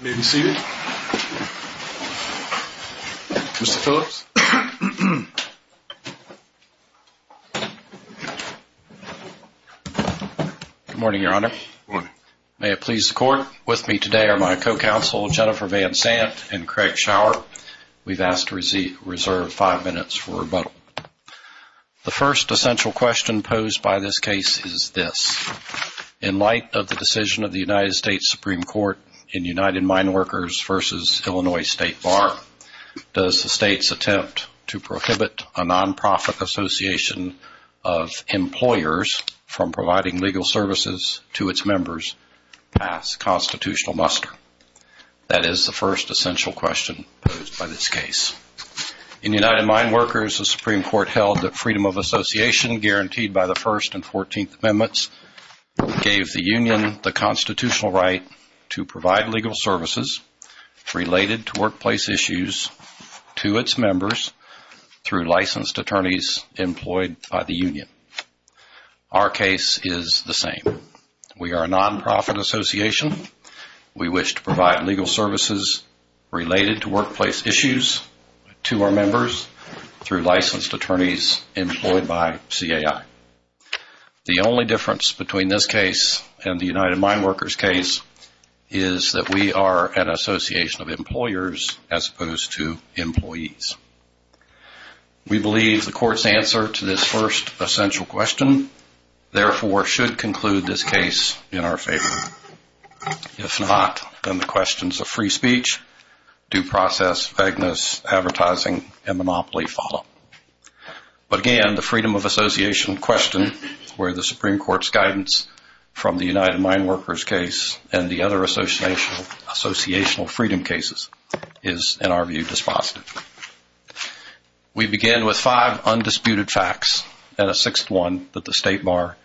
May it please the court, with me today are my co-counsel Jennifer Van Sant and Craig Schauer. We've asked to reserve five minutes for rebuttal. The first essential question posed by this case is this. In light of the decision of the United States Supreme Court in United Mine Workers v. Illinois State Farm, does the state's attempt to prohibit a non-profit association of employers from providing legal services to its members pass constitutional muster? That is the first essential question posed by this case. In United Mine Workers, the Supreme Court held that freedom of association guaranteed by the First and Fourteenth Amendments gave the union the constitutional right to provide legal services related to workplace issues to its members through licensed attorneys employed by the union. Our case is the same. We are a non-profit association. We wish to provide legal services related to workplace issues to our members through licensed attorneys employed by CAI. The only difference between this case and the United Mine Workers case is that we are an association of employers as opposed to employees. We believe the court's answer to this first essential question therefore should conclude this case in our favor. If not, then the questions of free speech, due process, vagueness, advertising, and monopoly follow. But again, the freedom of association question where the Supreme Court's guidance from the United Mine Workers case and the other associational freedom cases is, in our view, dispositive. We begin with five undisputed facts and a sixth one that the state bar and the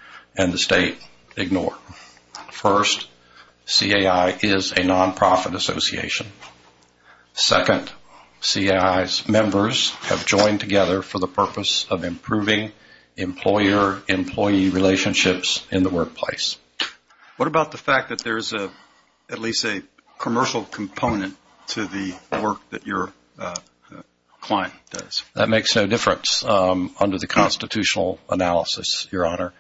members have joined together for the purpose of improving employer-employee relationships in the workplace. What about the fact that there's at least a commercial component to the work that your client does? That makes no difference under the constitutional analysis, Your Honor.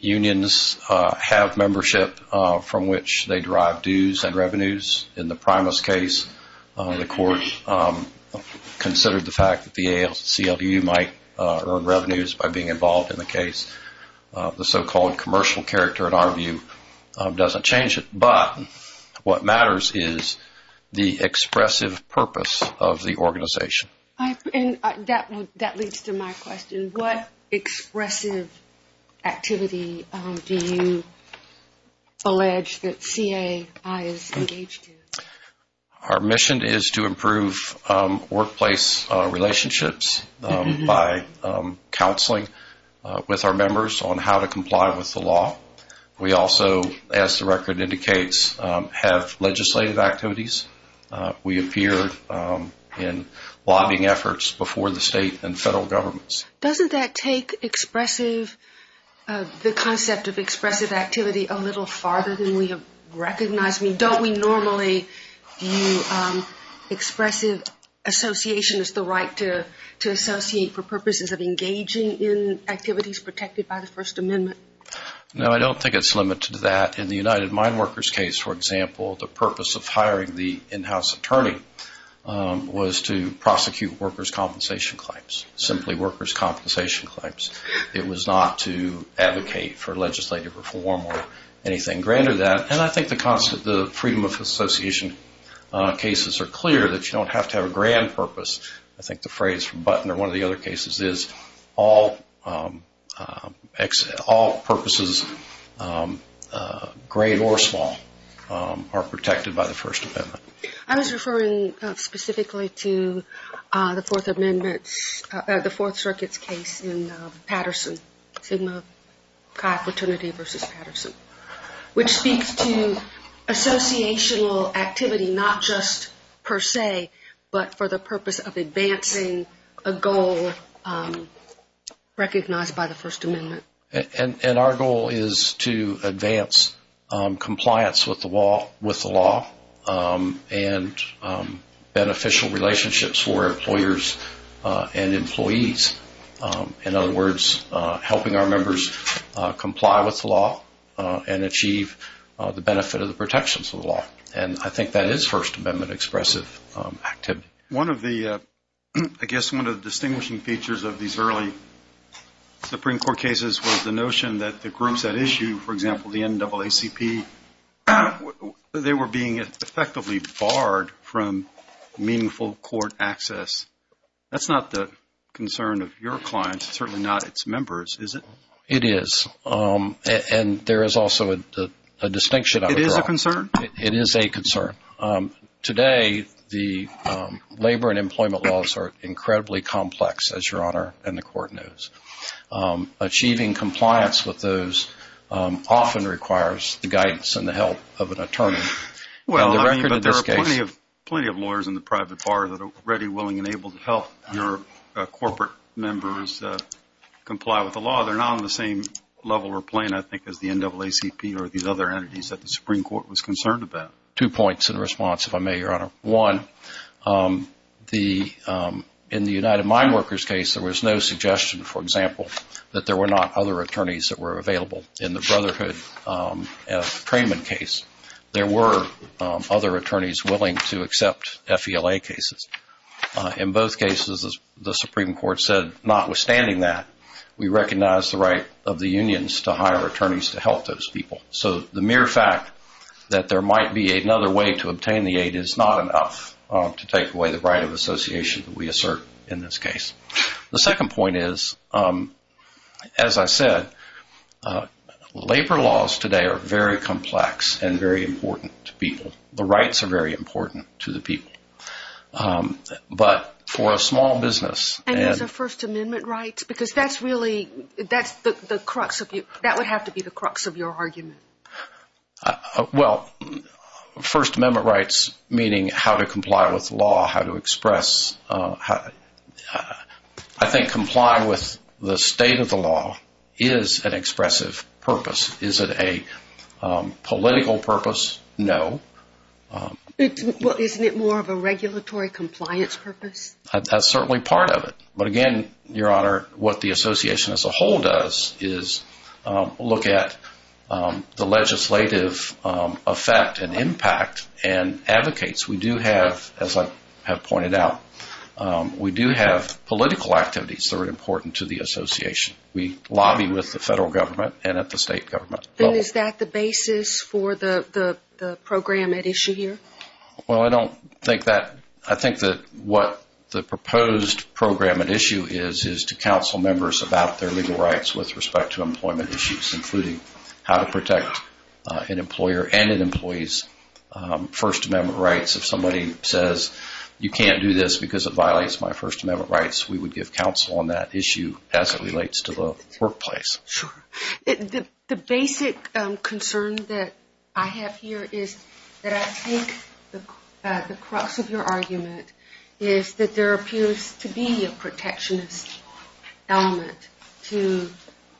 Unions have membership from which they derive dues and revenues. In the Primus case, the court considered the fact that the ACLU might earn revenues by being involved in the case. The so-called commercial character, in our view, doesn't change it. But what matters is the expressive purpose of the organization. And that leads to my question. What expressive activity do you allege that CAI is engaged in? Our mission is to improve workplace relationships by counseling with our members on how to comply with the in lobbying efforts before the state and federal governments. Doesn't that take expressive, the concept of expressive activity, a little farther than we have recognized? I mean, don't we normally view expressive association as the right to associate for purposes of engaging in activities protected by the First Amendment? No, I don't think it's limited to that. In the United Mine Workers case, for example, the purpose of hiring the in-house attorney was to prosecute workers' compensation claims, simply workers' compensation claims. It was not to advocate for legislative reform or anything greater than that. And I think the freedom of association cases are clear that you don't have to have a grand purpose. I think the phrase from Button or one of the other cases is all purposes, great or small, are protected by the First Amendment. I was referring specifically to the Fourth Circuit's case in Patterson, Sigma CAI Fraternity v. Patterson, which speaks to associational activity, not just per se, but for the purpose of advancing a goal recognized by the First Amendment. And our goal is to advance compliance with the law and beneficial relationships for employers and employees. In other words, helping our members comply with the law and achieve the benefit of the protections of the law. And I think that is First Amendment expressive activity. One of the, I guess, one of the distinguishing features of these early Supreme Court cases was the notion that the groups that issue, for example, the NAACP, they were being effectively barred from meaningful court access. That's not the concern of your clients, certainly not its members, is it? It is. And there is also a distinction. It is a concern? It is a concern. Today, the labor and employment laws are incredibly complex, as Your Honor and the Court knows. Achieving compliance with those often requires the guidance and the help of an attorney. Well, there are plenty of lawyers in the private bar that are ready, willing, and able to help your corporate members comply with the law. Well, they're not on the same level or plane, I think, as the NAACP or these other entities that the Supreme Court was concerned about. Two points in response, if I may, Your Honor. One, in the United Mine Workers case, there was no suggestion, for example, that there were not other attorneys that were available. In the Brotherhood-Trayman case, there were other attorneys willing to accept FELA cases. In both cases, as the Supreme Court said, notwithstanding that, we recognize the right of the unions to hire attorneys to help those people. So the mere fact that there might be another way to obtain the aid is not enough to take away the right of association that we assert in this case. The second point is, as I said, labor laws today are very complex and very important to people. The rights are very important to the people. But for a small business— And those are First Amendment rights? Because that's really—that's the crux of your—that would have to be the crux of your argument. Well, First Amendment rights, meaning how to comply with law, how to express—I think comply with the state of the law is an expressive purpose. Is it a political purpose? No. Isn't it more of a regulatory compliance purpose? That's certainly part of it. But again, Your Honor, what the association as a whole does is look at the legislative effect and impact and advocates. We do have, as I have pointed out, we do have political activities that are important to the association. We lobby with the federal government and at the state government level. Then is that the basis for the program at issue here? Well, I don't think that—I think that what the proposed program at issue is, is to counsel members about their legal rights with respect to employment issues, including how to protect an employer and an employee's First Amendment rights. If somebody says, you can't do this because it violates my First Amendment rights, we would give counsel on that issue as it relates to the workplace. Sure. The basic concern that I have here is that I think the crux of your argument is that there appears to be a protectionist element to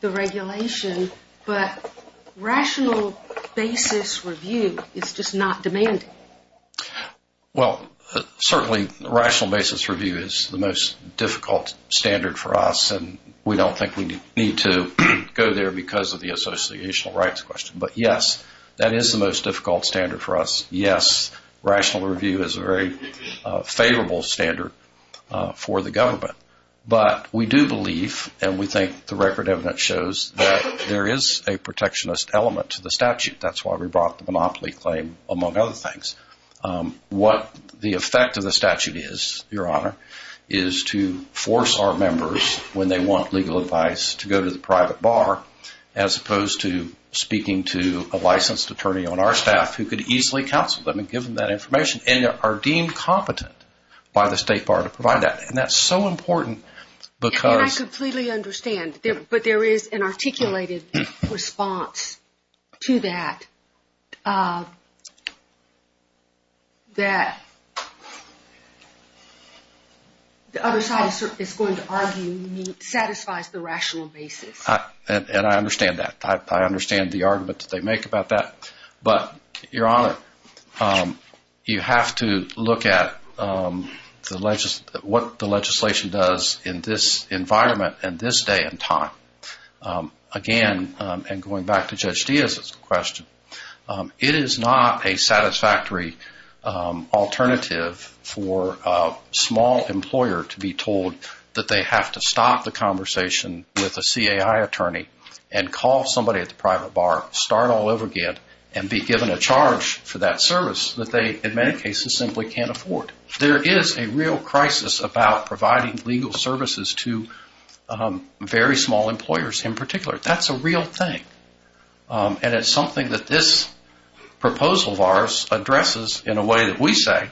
the regulation, but rational basis review is just not demanding. Well, certainly rational basis review is the most difficult standard for us, and we don't think we need to go there because of the associational rights question. But yes, that is the most difficult standard for us. Yes, rational review is a very favorable standard for the government. But we do believe, and we think the record evidence shows, that there is a protectionist element to the statute. That's why we brought the monopoly claim, among other things. What the effect of the statute is, Your Honor, is to force our members, when they want legal advice, to go to the private bar, as opposed to speaking to a licensed attorney on our staff who could easily counsel them and give them that information, and are deemed competent by the state bar to provide that. And that's so important because— —that the other side is going to argue satisfies the rational basis. And I understand that. I understand the argument that they make about that. But, Your Honor, you have to look at what the legislation does in this environment and this day and time. Again, and going back to Judge Diaz's question, it is not a satisfactory alternative for a small employer to be told that they have to stop the conversation with a CAI attorney and call somebody at the private bar, start all over again, and be given a charge for that service that they, in many cases, simply can't afford. There is a real crisis about providing legal services to very small employers, in particular. That's a real thing. And it's something that this proposal of ours addresses in a way that we say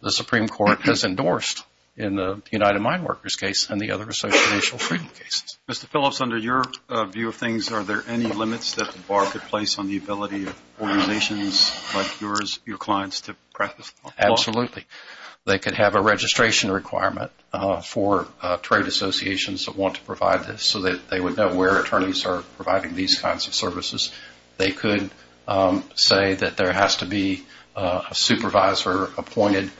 the Supreme Court has endorsed in the United Mine Workers case and the other association freedom cases. Mr. Phillips, under your view of things, are there any limits that the bar could place on the ability of organizations like yours, your clients, to practice law? Absolutely. They could have a registration requirement for trade associations that want to provide this, so that they would know where attorneys are providing these kinds of services. They could say that there has to be a supervisor appointed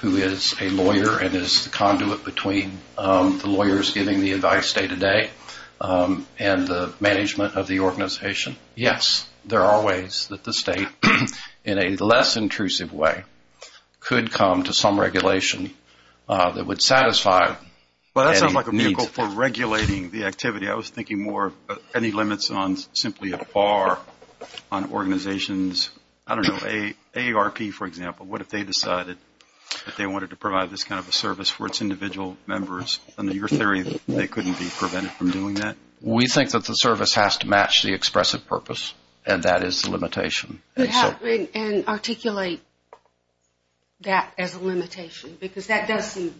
who is a lawyer and is the conduit between the lawyers giving the advice day to day and the management of the organization. Yes, there are ways that the state, in a less intrusive way, could come to some regulation that would satisfy any needs. Well, that sounds like a vehicle for regulating the activity. I was thinking more of any limits on simply a bar on organizations. I don't know, AARP, for example. What if they decided that they wanted to provide this kind of a service for its individual members? Under your theory, they couldn't be prevented from doing that? We think that the service has to match the expressive purpose, and that is the limitation. And articulate that as a limitation, because that does seem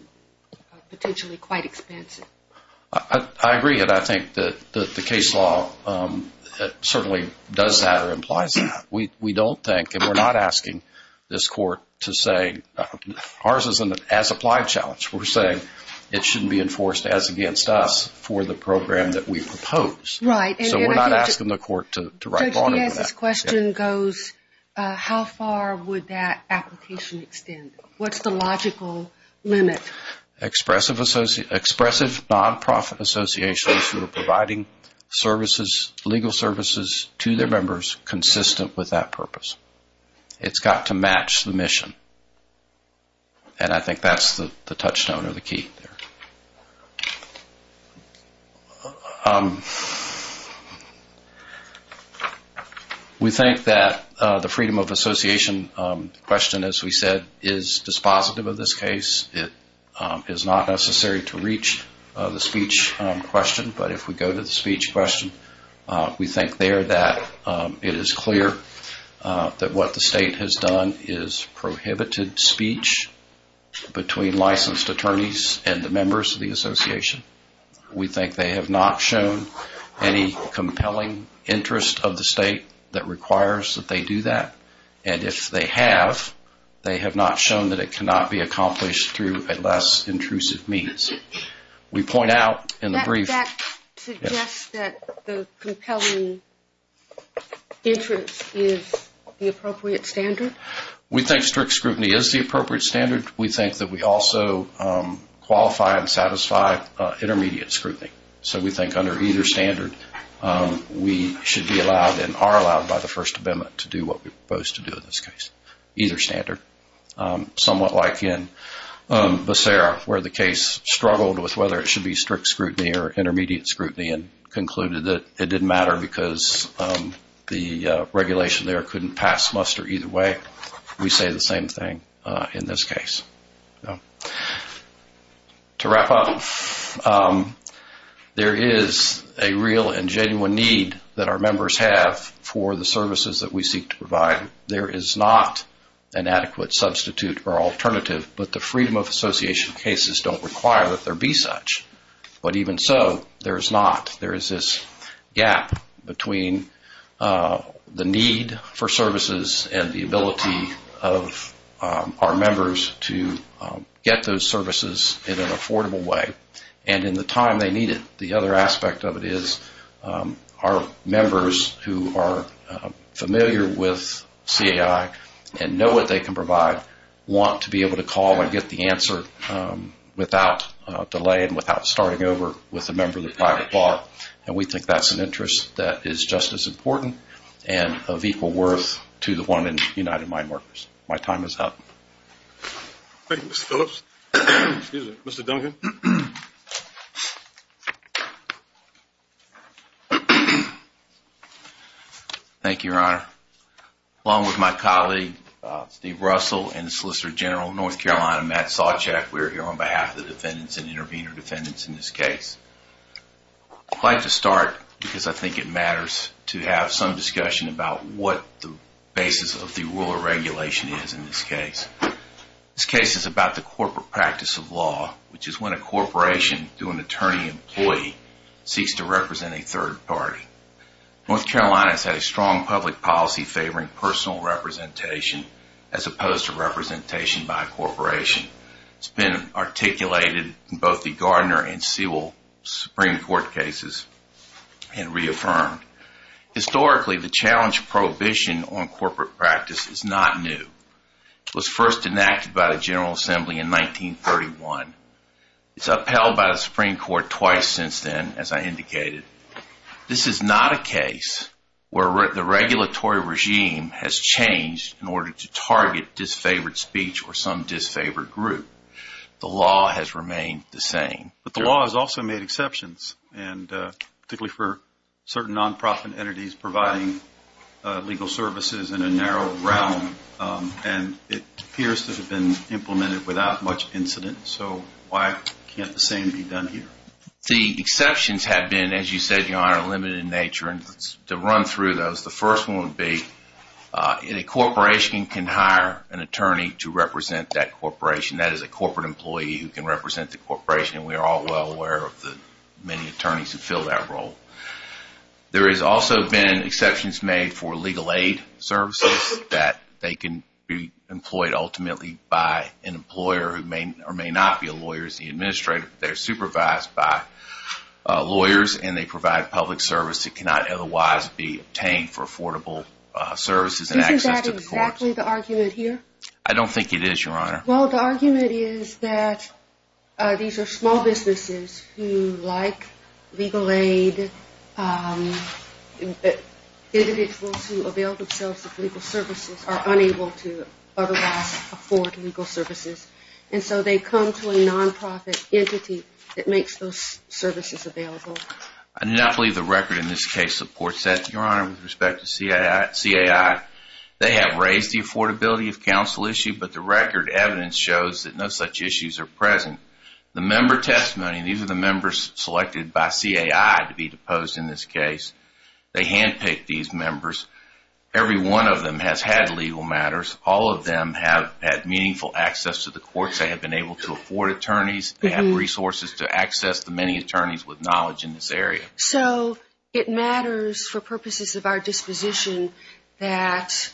potentially quite expensive. I agree, and I think that the case law certainly does that or implies that. We don't think, and we're not asking this court to say, ours is an as-applied challenge. We're saying it shouldn't be enforced as against us for the program that we propose. Right. So we're not asking the court to write a bond on that. Judge Diaz's question goes, how far would that application extend? What's the logical limit? Expressive non-profit associations who are providing services, legal services, to their members consistent with that purpose. It's got to match the mission. And I think that's the touchstone or the key there. We think that the freedom of association question, as we said, is dispositive of this case. It is not necessary to reach the speech question, but if we go to the speech question, we think there that it is clear that what the state has done is prohibited speech between licensed attorneys and the members of the association. We think they have not shown any compelling interest of the state that requires that they do that. And if they have, they have not shown that it cannot be accomplished through a less intrusive means. We point out in the brief. That suggests that the compelling interest is the appropriate standard? We think strict scrutiny is the appropriate standard. We think that we also qualify and satisfy intermediate scrutiny. So we think under either standard, we should be allowed and are allowed by the First Amendment to do what we propose to do in this case. Either standard. Somewhat like in Becerra, where the case struggled with whether it should be strict scrutiny or intermediate scrutiny, and concluded that it didn't matter because the regulation there couldn't pass muster either way. We say the same thing in this case. To wrap up, there is a real and genuine need that our members have for the services that we seek to provide. There is not an adequate substitute or alternative, but the freedom of association cases don't require that there be such. But even so, there is not. There is this gap between the need for services and the ability of our members to get those services in an affordable way. And in the time they need it. The other aspect of it is, our members who are familiar with CAI and know what they can provide, want to be able to call and get the answer without delay and without starting over with a member of the private bar. And we think that's an interest that is just as important and of equal worth to the one in United Mine Workers. My time is up. Thank you, Mr. Phillips. Excuse me, Mr. Duncan. Thank you, Your Honor. Along with my colleague, Steve Russell, and Solicitor General of North Carolina, Matt Sawcheck, we're here on behalf of the defendants and intervener defendants in this case. I'd like to start, because I think it matters, to have some discussion about what the basis of the rule of regulation is in this case. This case is about the corporate practice of law, which is when a corporation, through an attorney-employee, seeks to represent a third party. North Carolina has had a strong public policy favoring personal representation, as opposed to representation by a corporation. It's been articulated in both the Gardner and Sewell Supreme Court cases and reaffirmed. Historically, the challenge of prohibition on corporate practice is not new. It was first enacted by the General Assembly in 1931. It's upheld by the Supreme Court twice since then, as I indicated. This is not a case where the regulatory regime has changed in order to target disfavored speech or some disfavored group. The law has remained the same. But the law has also made exceptions, particularly for certain nonprofit entities providing legal services in a narrow realm. And it appears to have been implemented without much incident. So why can't the same be done here? The exceptions have been, as you said, Your Honor, limited in nature. And to run through those, the first one would be, a corporation can hire an attorney to represent that corporation. That is a corporate employee who can represent the corporation. And we are all well aware of the many attorneys who fill that role. There has also been exceptions made for legal aid services, that they can be employed ultimately by an employer who may or may not be a lawyer. It's the administrator. They're supervised by lawyers, and they provide public service that cannot otherwise be obtained for affordable services and access to the courts. Isn't that exactly the argument here? I don't think it is, Your Honor. Well, the argument is that these are small businesses who like legal aid. Individuals who avail themselves of legal services are unable to otherwise afford legal services. And so they come to a nonprofit entity that makes those services available. I do not believe the record in this case supports that, Your Honor, with respect to CAI. They have raised the affordability of counsel issue, but the record evidence shows that no such issues are present. The member testimony, these are the members selected by CAI to be deposed in this case. They handpicked these members. Every one of them has had legal matters. All of them have had meaningful access to the courts. They have been able to afford attorneys. They have resources to access the many attorneys with knowledge in this area. So it matters for purposes of our disposition that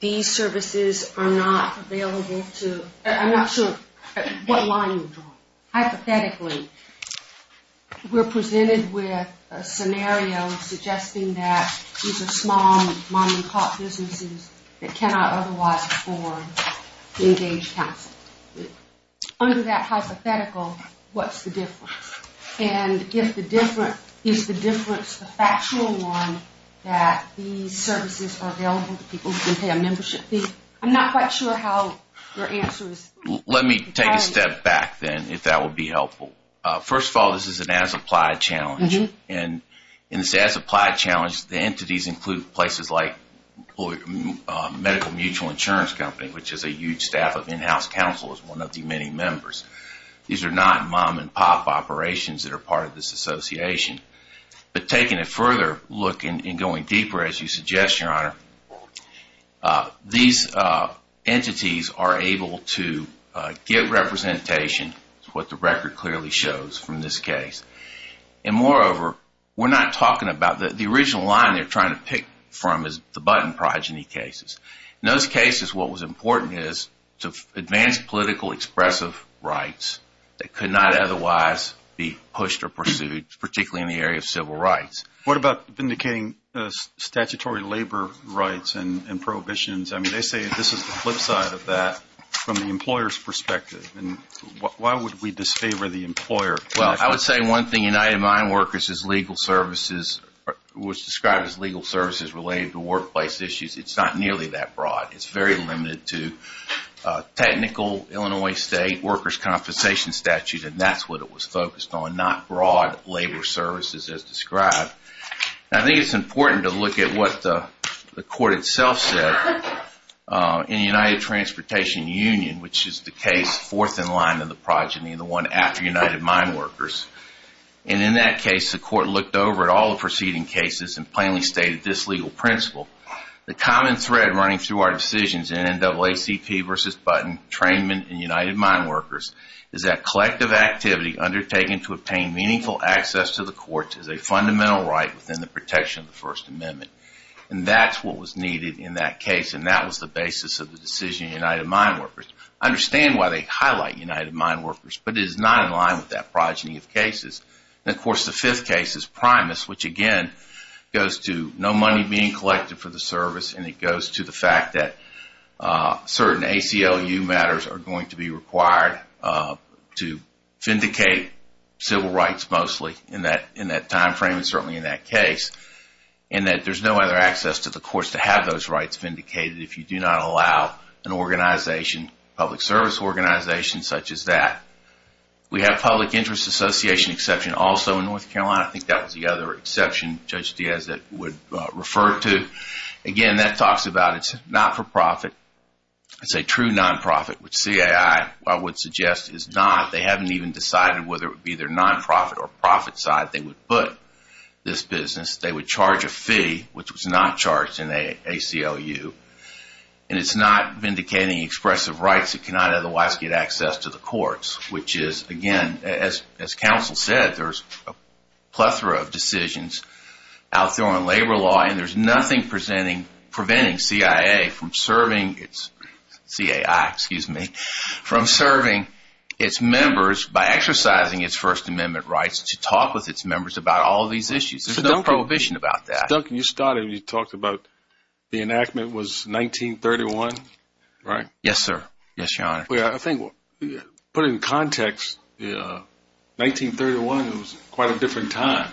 these services are not available to... I'm not sure what line you're drawing. Hypothetically, we're presented with a scenario suggesting that these are small, money-caught businesses that cannot otherwise afford engaged counsel. Under that hypothetical, what's the difference? And if the difference is the factual one that these services are available to people who can pay a membership fee? I'm not quite sure how your answer is... Let me take a step back, then, if that would be helpful. First of all, this is an as-applied challenge. And in this as-applied challenge, the entities include places like Medical Mutual Insurance Company, which is a huge staff of in-house counsel as one of the many members. These are not mom-and-pop operations that are part of this association. But taking a further look and going deeper, as you suggest, Your Honor, these entities are able to get representation, what the record clearly shows from this case. And moreover, we're not talking about... The original line they're trying to pick from is the button progeny cases. In those cases, what was important is to advance political expressive rights that could not otherwise be pushed or pursued, particularly in the area of civil rights. What about vindicating statutory labor rights and prohibitions? I mean, they say this is the flip side of that from the employer's perspective. And why would we disfavor the employer? Well, I would say one thing, United Mine Workers is legal services... was described as legal services related to workplace issues. It's not nearly that broad. It's very limited to technical Illinois State workers' compensation statutes. And that's what it was focused on, not broad labor services as described. I think it's important to look at what the court itself said in United Transportation Union, which is the case fourth in line to the progeny, the one after United Mine Workers. And in that case, the court looked over all the preceding cases and plainly stated this legal principle. The common thread running through our decisions in NAACP versus Button, Trainment, and United Mine Workers is that collective activity undertaken to obtain meaningful access to the courts is a fundamental right within the protection of the First Amendment. And that's what was needed in that case. And that was the basis of the decision in United Mine Workers. I understand why they highlight United Mine Workers, but it is not in line with that progeny of cases. And of course, the fifth case is Primus, which again goes to no money being collected for the service. And it goes to the fact that certain ACLU matters are going to be required to vindicate civil rights, mostly in that time frame and certainly in that case. And that there's no other access to the courts to have those rights vindicated if you do not allow an organization, public service organization such as that. We have public interest association exception also in North Carolina. I think that was the other exception, Judge Diaz, that would refer to. Again, that talks about it's not for profit. It's a true nonprofit, which CAI, I would suggest, is not. They haven't even decided whether it would be their nonprofit or profit side they would put this business. They would charge a fee, which was not charged in ACLU. And it's not vindicating expressive rights that cannot otherwise get access to the courts, which is, again, as counsel said, there's a plethora of decisions out there on labor law, and there's nothing preventing CAI from serving its members by exercising its First Amendment rights to talk with its members about all these issues. There's no prohibition about that. Duncan, you started when you talked about the enactment was 1931, right? Yes, sir. Yes, Your Honor. I think, put in context, 1931 was quite a different time.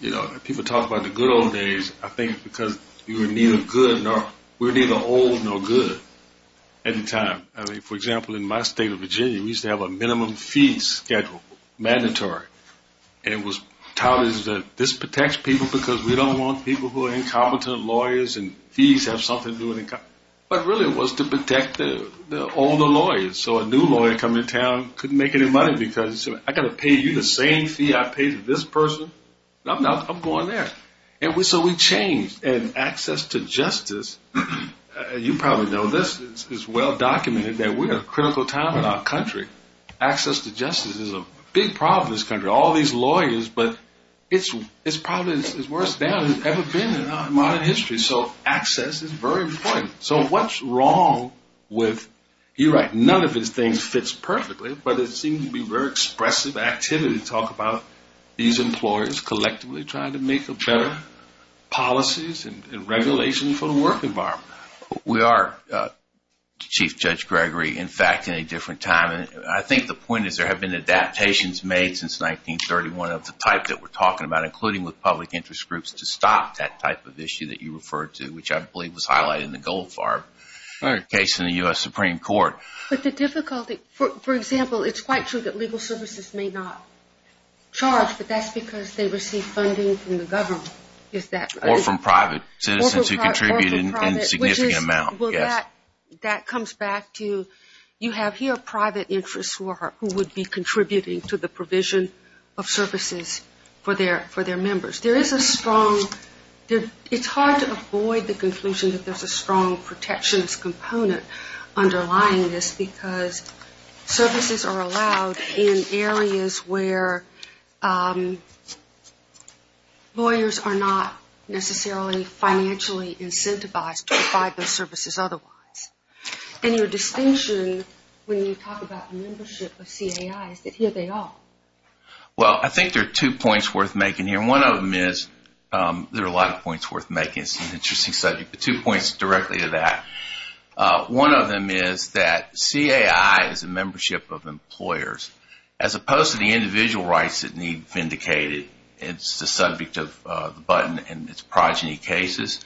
You know, people talk about the good old days. I think because you were neither good nor... We were neither old nor good at the time. I mean, for example, in my state of Virginia, we used to have a minimum fee schedule, mandatory. And it was touted as this protects people because we don't want people who are incompetent lawyers and fees have something to do with it. But really, it was to protect the older lawyers. So a new lawyer coming to town couldn't make any money because I've got to pay you the same fee I paid this person. I'm going there. And so we changed. And access to justice, you probably know this, is well documented that we're in a critical time in our country. Access to justice is a big problem in this country. All these lawyers, but it's probably as worse down as it's ever been in modern history. So access is very important. So what's wrong with... You're right, none of these things fits perfectly, but it seems to be very expressive activity to talk about these employers collectively trying to make better policies and regulations for the work environment. We are, Chief Judge Gregory, in fact, in a different time. And I think the point is there have been adaptations made since 1931 of the type that we're talking about, including with public interest groups, to stop that type of issue that you referred to, which I believe was highlighted in the Goldfarb case in the U.S. Supreme Court. But the difficulty, for example, it's quite true that legal services may not charge, but that's because they receive funding from the government. Is that... Or from private citizens who contributed in significant amount. That comes back to, you have here private interests who would be contributing to the provision of services for their members. It's hard to avoid the conclusion that there's a strong protectionist component underlying this because services are allowed in areas where lawyers are not necessarily financially incentivized to provide those services otherwise. And your distinction, when you talk about membership of CAIs, that here they are. Well, I think there are two points worth making here. One of them is, there are a lot of points worth making. It's an interesting subject, but two points directly to that. One of them is that CAI is a membership of employers, as opposed to the individual rights that need vindicated. It's the subject of the button and it's progeny cases.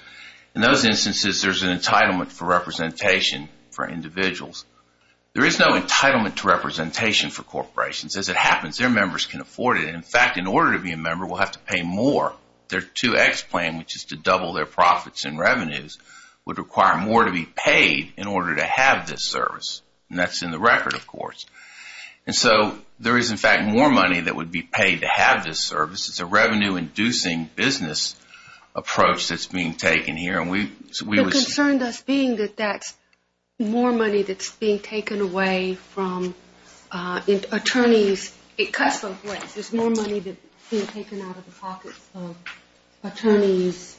In those instances, there's an entitlement for representation for individuals. There is no entitlement to representation for corporations. As it happens, their members can afford it. In fact, in order to be a member, we'll have to pay more. Their 2X plan, which is to double their profits and revenues would require more to be paid in order to have this service. And that's in the record, of course. And so there is, in fact, more money that would be paid to have this service. It's a revenue-inducing business approach that's being taken here. And we- The concern thus being that that's more money that's being taken away from attorneys. It cuts them. Wait, there's more money that's being taken out of the pockets of attorneys.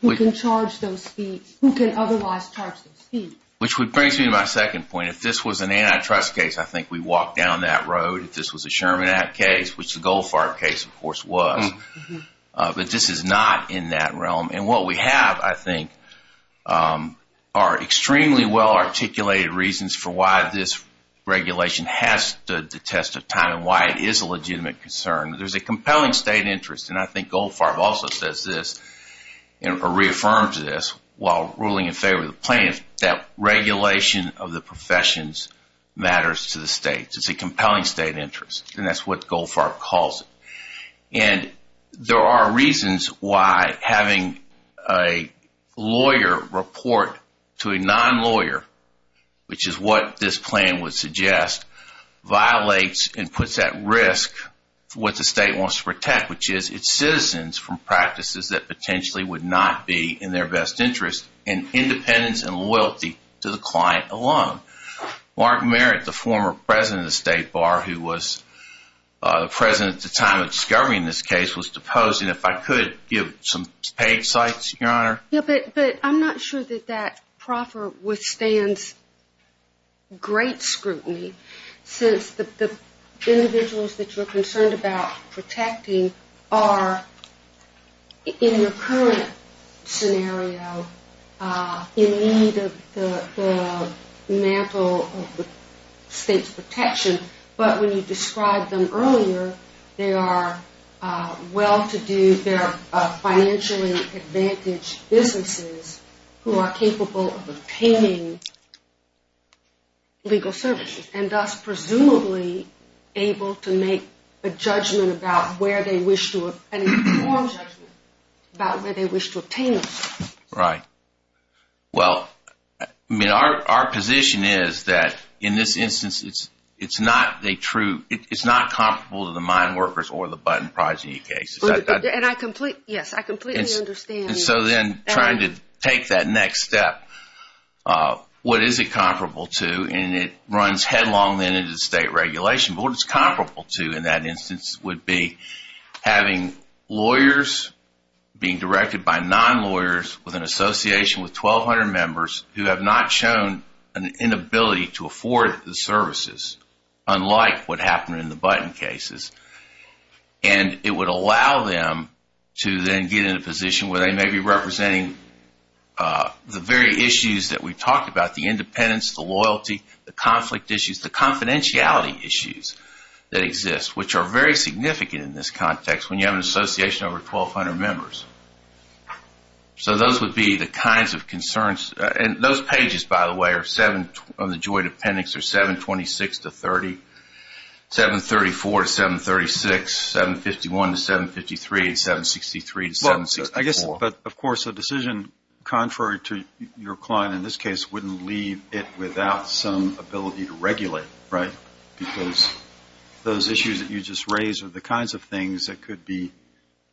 Who can charge those fees? Who can otherwise charge those fees? Which brings me to my second point. If this was an antitrust case, I think we'd walk down that road. If this was a Sherman Act case, which the Goldfarb case, of course, was. But this is not in that realm. And what we have, I think, are extremely well-articulated reasons for why this regulation has stood the test of time and why it is a legitimate concern. There's a compelling state interest, and I think Goldfarb also says this, or reaffirms this, while ruling in favor of the plan, that regulation of the professions matters to the states. It's a compelling state interest, and that's what Goldfarb calls it. And there are reasons why having a lawyer report to a non-lawyer, which is what this plan would suggest, violates and puts at risk what the state wants to protect, which is its citizens from practices that potentially would not be in their best interest, and independence and loyalty to the client alone. Mark Merritt, the former president of the State Bar, who was the president at the time of discovering this case, was deposing, if I could, some paid sites, Your Honor. Yeah, but I'm not sure that that proffer withstands great scrutiny, since the individuals that you're concerned about protecting are, in your current scenario, in need of the mantle of the state's protection, but when you described them earlier, they are well-to-do, they're financially advantaged businesses who are capable of obtaining legal services, and thus presumably able to make a judgment about where they wish to obtain them. Right. Well, I mean, our position is that, in this instance, it's not a true, it's not comparable to the mine workers or the button project cases. And I completely, yes, I completely understand that. And so then, trying to take that next step, what is it comparable to, and it runs headlong then into state regulation, but what it's comparable to in that instance would be having lawyers being directed by non-lawyers with an association with 1,200 members who have not shown an inability to afford the services, unlike what happened in the button cases. And it would allow them to then get in a position where they may be representing the very issues that we talked about, the independence, the loyalty, the conflict issues, the confidentiality issues that exist, which are very significant in this context when you have an association over 1,200 members. So those would be the kinds of concerns, and those pages, by the way, are seven, on the joint appendix, are 726 to 30, 734 to 736, 751 to 753, and 763 to 764. I guess, but of course, a decision contrary to your client in this case wouldn't leave it without some ability to regulate, right? Because those issues that you just raised are the kinds of things that could be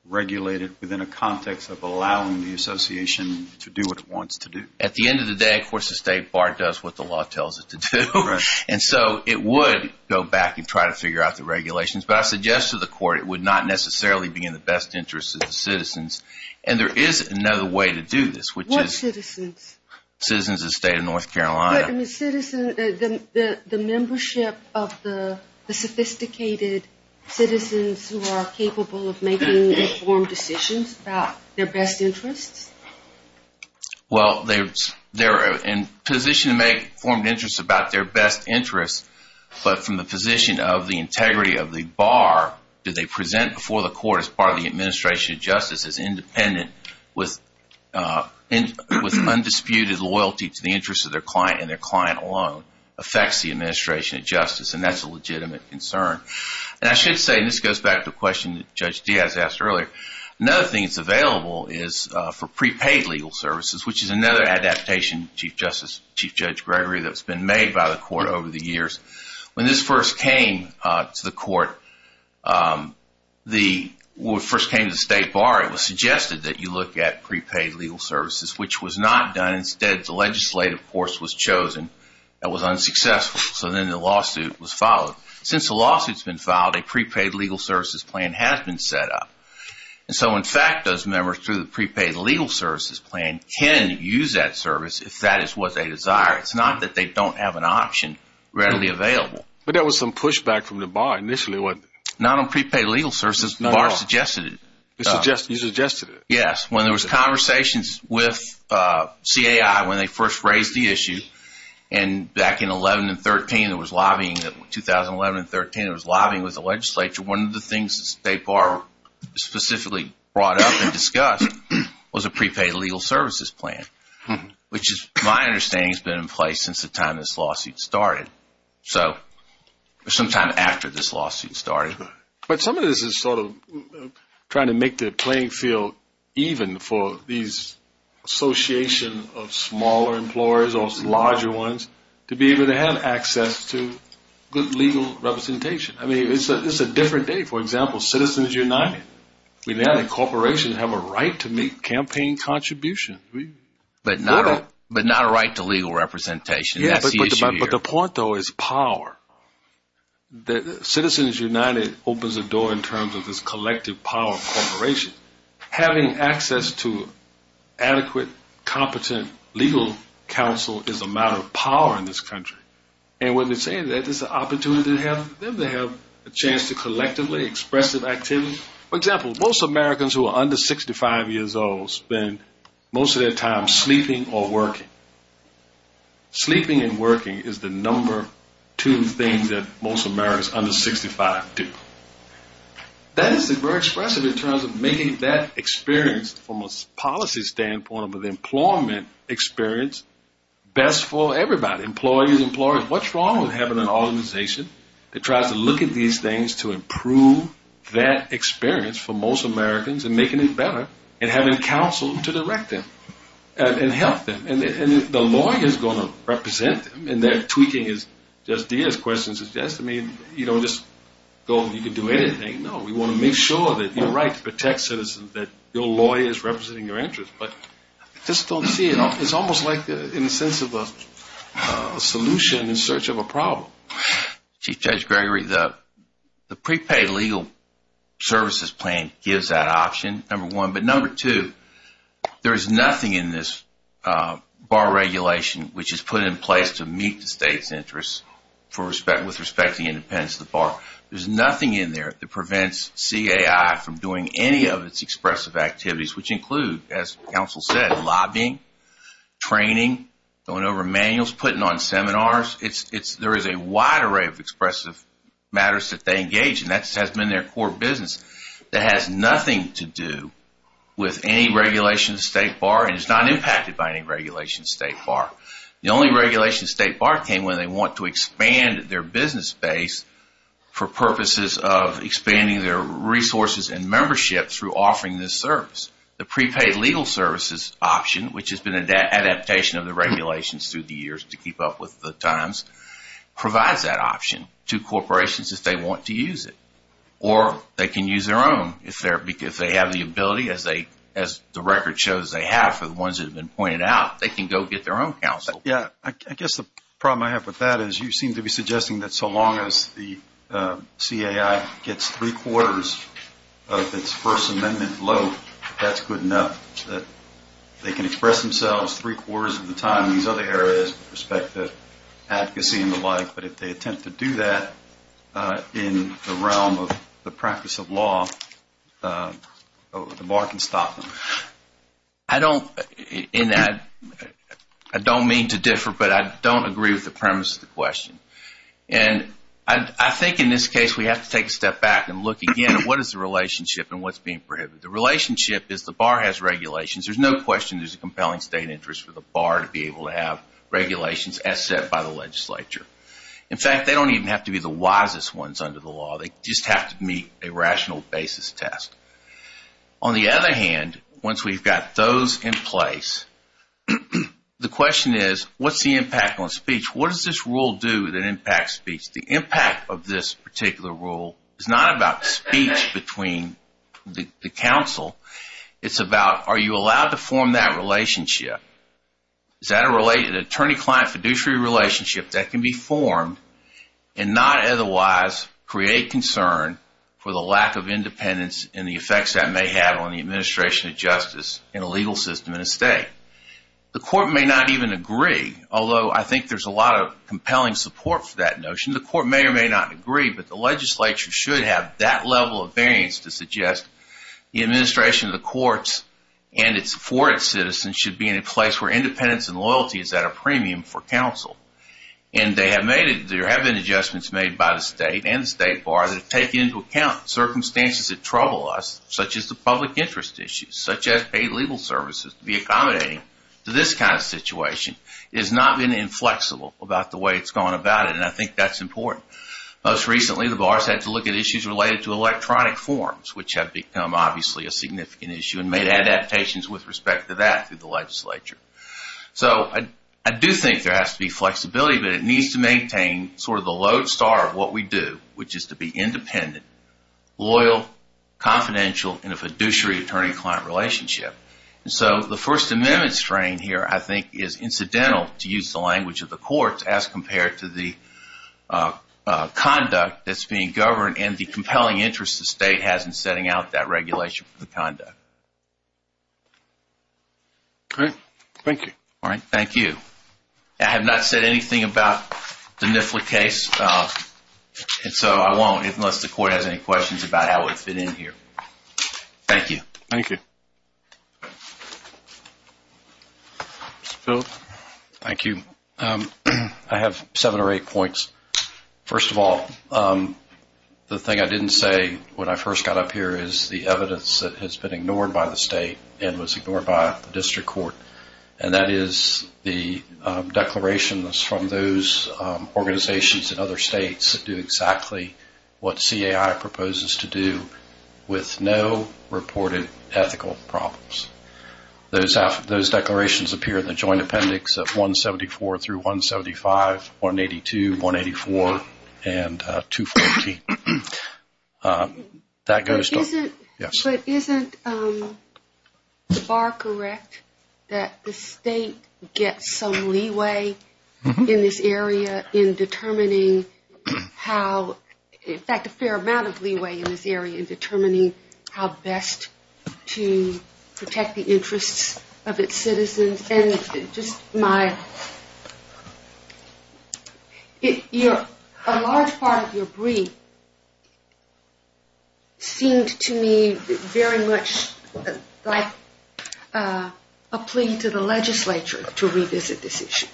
regulated within a context of allowing the association to do what it wants to do. At the end of the day, of course, the State Bar does what the law tells it to do, and so it would go back and try to figure out the regulations, but I suggest to the court it would not necessarily be in the best interest of the citizens, and there is another way to do this, which is- What citizens? Citizens of the state of North Carolina. But, I mean, citizens, the membership of the sophisticated citizens who are capable of making informed decisions about their best interests? Well, they're in a position to make informed interests about their best interests, but from the position of the integrity of the bar that they present before the court as part of the administration of justice is independent with undisputed loyalty to the interests of their client, and their client alone affects the administration of justice, and that's a legitimate concern. And I should say, and this goes back to a question that Judge Diaz asked earlier, another thing that's available is for prepaid legal services, which is another adaptation, Chief Justice, Chief Judge Gregory, that's been made by the court over the years. When this first came to the court, the, when it first came to the State Bar, it was suggested that you look at prepaid legal services, which was not done. Instead, the legislative course was chosen. That was unsuccessful, so then the lawsuit was filed. Since the lawsuit's been filed, a prepaid legal services plan has been set up. And so, in fact, those members through the prepaid legal services plan can use that service if that is what they desire. It's not that they don't have an option readily available. But there was some pushback from the bar initially. Not on prepaid legal services, the bar suggested it. You suggested it? Yes, when there was conversations with CAI when they first raised the issue, and back in 11 and 13, it was lobbying, 2011 and 13, it was lobbying with the legislature. One of the things the State Bar specifically brought up and discussed was a prepaid legal services plan, which is, my understanding, has been in place since the time this lawsuit started. So, sometime after this lawsuit started. But some of this is sort of trying to make the playing field even for these association of smaller employers or larger ones to be able to have access to good legal representation. I mean, it's a different day. For example, Citizens United. We now, as a corporation, have a right to make campaign contributions. But not a right to legal representation. That's the issue here. But the point, though, is power. Citizens United opens the door in terms of this collective power of corporations. Having access to adequate, competent legal counsel is a matter of power in this country. And when they say that, it's an opportunity to have them to have a chance to collectively express their activities. For example, most Americans who are under 65 years old spend most of their time sleeping or working. Sleeping and working is the number two thing that most Americans under 65 do. That is very expressive in terms of making that experience from a policy standpoint of an employment experience best for everybody. Employees, employers, what's wrong with having an organization that tries to look at these things to improve that experience for most Americans and making it better, and having counsel to direct them and help them? And the lawyer's gonna represent them, and their tweaking is just as questions suggest. I mean, you don't just go and you can do anything. We wanna make sure that you're right to protect citizens, that your lawyer is representing your interest, but I just don't see it. It's almost like in the sense of a solution in search of a problem. Chief Judge Gregory, the prepaid legal services plan gives that option, number one. But number two, there is nothing in this bar regulation which is put in place to meet the state's interests with respect to the independence of the bar. There's nothing in there that prevents CAI from doing any of its expressive activities, which include, as counsel said, lobbying, training, going over manuals, putting on seminars. There is a wide array of expressive matters that they engage in. That has been their core business. That has nothing to do with any regulation of the state bar, and it's not impacted by any regulation of the state bar. The only regulation of the state bar came when they want to expand their business base for purposes of expanding their resources and membership through offering this service. The prepaid legal services option, which has been an adaptation of the regulations through the years to keep up with the times, provides that option to corporations if they want to use it, or they can use their own if they have the ability, as the record shows they have for the ones that have been pointed out, they can go get their own counsel. Yeah, I guess the problem I have with that is you seem to be suggesting that so long as the CAI gets three quarters of its First Amendment load, that's good enough, that they can express themselves three quarters of the time in these other areas with respect to advocacy and the like, but if they attempt to do that in the realm of the practice of law, the bar can stop them. I don't, in that, I don't mean to differ, but I don't agree with the premise of the question. And I think in this case we have to take a step back and look again at what is the relationship and what's being prohibited. The relationship is the bar has regulations, there's no question there's a compelling state interest for the bar to be able to have regulations as set by the legislature. In fact, they don't even have to be the wisest ones under the law, they just have to meet a rational basis test. On the other hand, once we've got those in place, the question is, what's the impact on speech? What does this rule do that impacts speech? The impact of this particular rule is not about speech between the counsel, it's about are you allowed to form that relationship? Is that a related attorney-client fiduciary relationship that can be formed and not otherwise create concern for the lack of independence and the effects that may have on the administration of justice in a legal system in a state? The court may not even agree, although I think there's a lot of compelling support for that notion. The court may or may not agree, but the legislature should have that level of variance to suggest the administration of the courts and for its citizens should be in a place where independence and loyalty is at a premium for counsel. And there have been adjustments made by the state and the state bar that have taken into account circumstances that trouble us, such as the public interest issues, such as paid legal services to be accommodating to this kind of situation. It has not been inflexible about the way it's gone about it and I think that's important. Most recently, the bars had to look at issues related to electronic forms, which have become obviously a significant issue and made adaptations with respect to that through the legislature. So I do think there has to be flexibility, but it needs to maintain sort of the lodestar of what we do, which is to be independent, loyal, confidential in a fiduciary attorney-client relationship. And so the First Amendment strain here, I think is incidental to use the language of the courts as compared to the conduct that's being governed and the compelling interest the state has in setting out that regulation for the conduct. Great, thank you. All right, thank you. I have not said anything about the NIFLA case, and so I won't unless the court has any questions about how it fit in here. Thank you. Thank you. Mr. Field? Thank you. I have seven or eight points. First of all, the thing I didn't say when I first got up here is the evidence that has been ignored by the state and was ignored by the district court, and that is the declarations from those organizations in other states that do exactly what CAI proposes to do with no reported ethical problems. Those declarations appear in the joint appendix of 174 through 175, 182, 184, and 214. That goes to- But isn't the bar correct that the state gets some leeway in this area in determining how, in fact, a fair amount of leeway in this area in determining how best to protect the interests of its citizens? And just my, a large part of your brief seemed to me very much like a plea to the legislature to revisit this issue.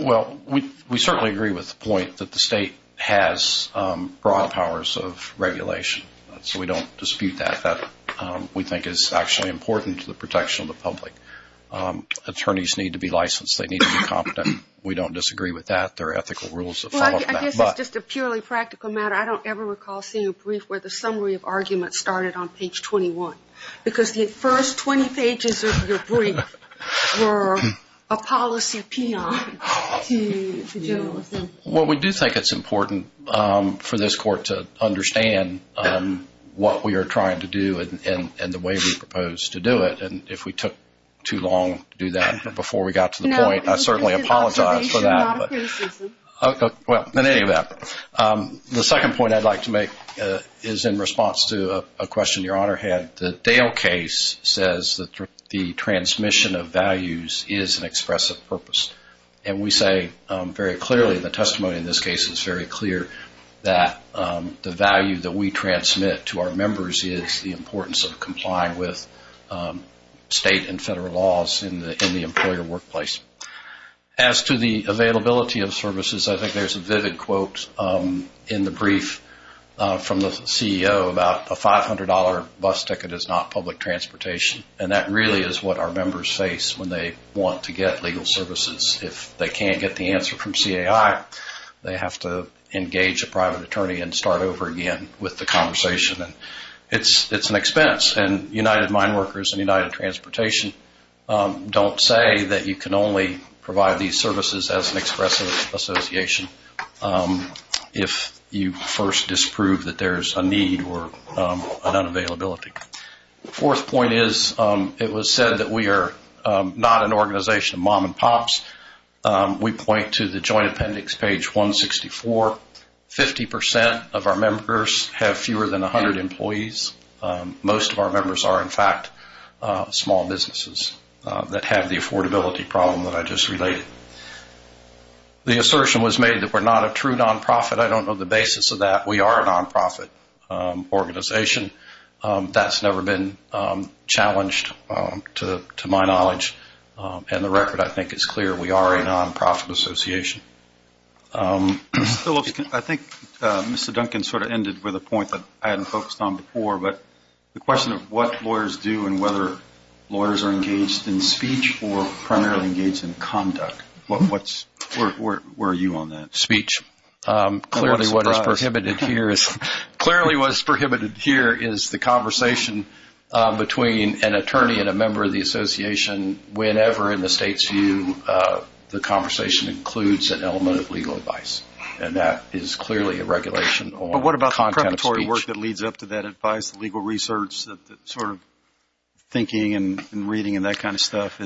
Well, we certainly agree with the point that the state has broad powers of regulation, so we don't dispute that. That, we think, is actually important to the protection of the public. Attorneys need to be licensed. They need to be competent. We don't disagree with that. There are ethical rules that follow from that, but- Well, I guess it's just a purely practical matter. I don't ever recall seeing a brief where the summary of arguments started on page 21 because the first 20 pages of your brief were a policy pion to general assembly. Well, we do think it's important for this court to understand what we are trying to do and the way we propose to do it, and if we took too long to do that before we got to the point, I certainly apologize for that. No, you did an observation, not a criticism. Well, in any event, the second point I'd like to make is in response to a question your Honor had. The Dale case says that the transmission of values is an expressive purpose, and we say very clearly in the testimony in this case, it's very clear that the value that we transmit to our members is the importance of complying with state and federal laws in the employer workplace. As to the availability of services, I think there's a vivid quote in the brief from the CEO about a $500 bus ticket is not public transportation, and that really is what our members face when they want to get legal services. If they can't get the answer from CAI, they have to engage a private attorney and start over again with the conversation, and it's an expense, and United Mine Workers and United Transportation don't say that you can only provide these services as an expressive association if you first disprove that there's a need or an unavailability. The fourth point is it was said that we are not an organization of mom and pops. We point to the joint appendix, page 164. 50% of our members have fewer than 100 employees. Most of our members are, in fact, small businesses that have the affordability problem that I just related. The assertion was made that we're not a true nonprofit. I don't know the basis of that. We are a nonprofit organization. That's never been challenged to my knowledge, and the record, I think, is clear. We are a nonprofit association. I think Mr. Duncan sort of ended with a point that I hadn't focused on before, but the question of what lawyers do and whether lawyers are engaged in speech or primarily engaged in conduct, where are you on that? Speech, clearly what is prohibited here is, the conversation between an attorney and a member of the association, whenever in the state's view, the conversation includes an element of legal advice, and that is clearly a regulation on the content of speech. But what about the preparatory work that leads up to that advice, the legal research, the sort of thinking and reading and that kind of stuff?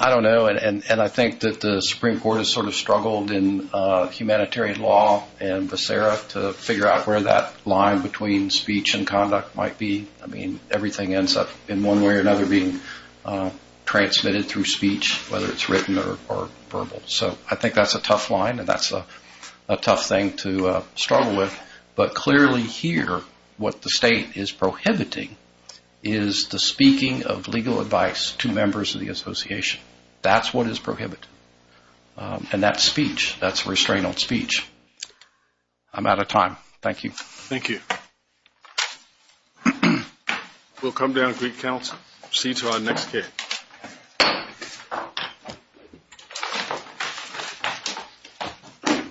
I don't know, and I think that the Supreme Court has sort of struggled in humanitarian law and viscera to figure out where that line between speech and conduct might be. I mean, everything ends up in one way or another being transmitted through speech, whether it's written or verbal. So I think that's a tough line, and that's a tough thing to struggle with. But clearly here, what the state is prohibiting is the speaking of legal advice to members of the association. That's what is prohibited. And that's speech, that's restraint on speech. I'm out of time, thank you. We'll come down, Greek Council, see you to our next meeting.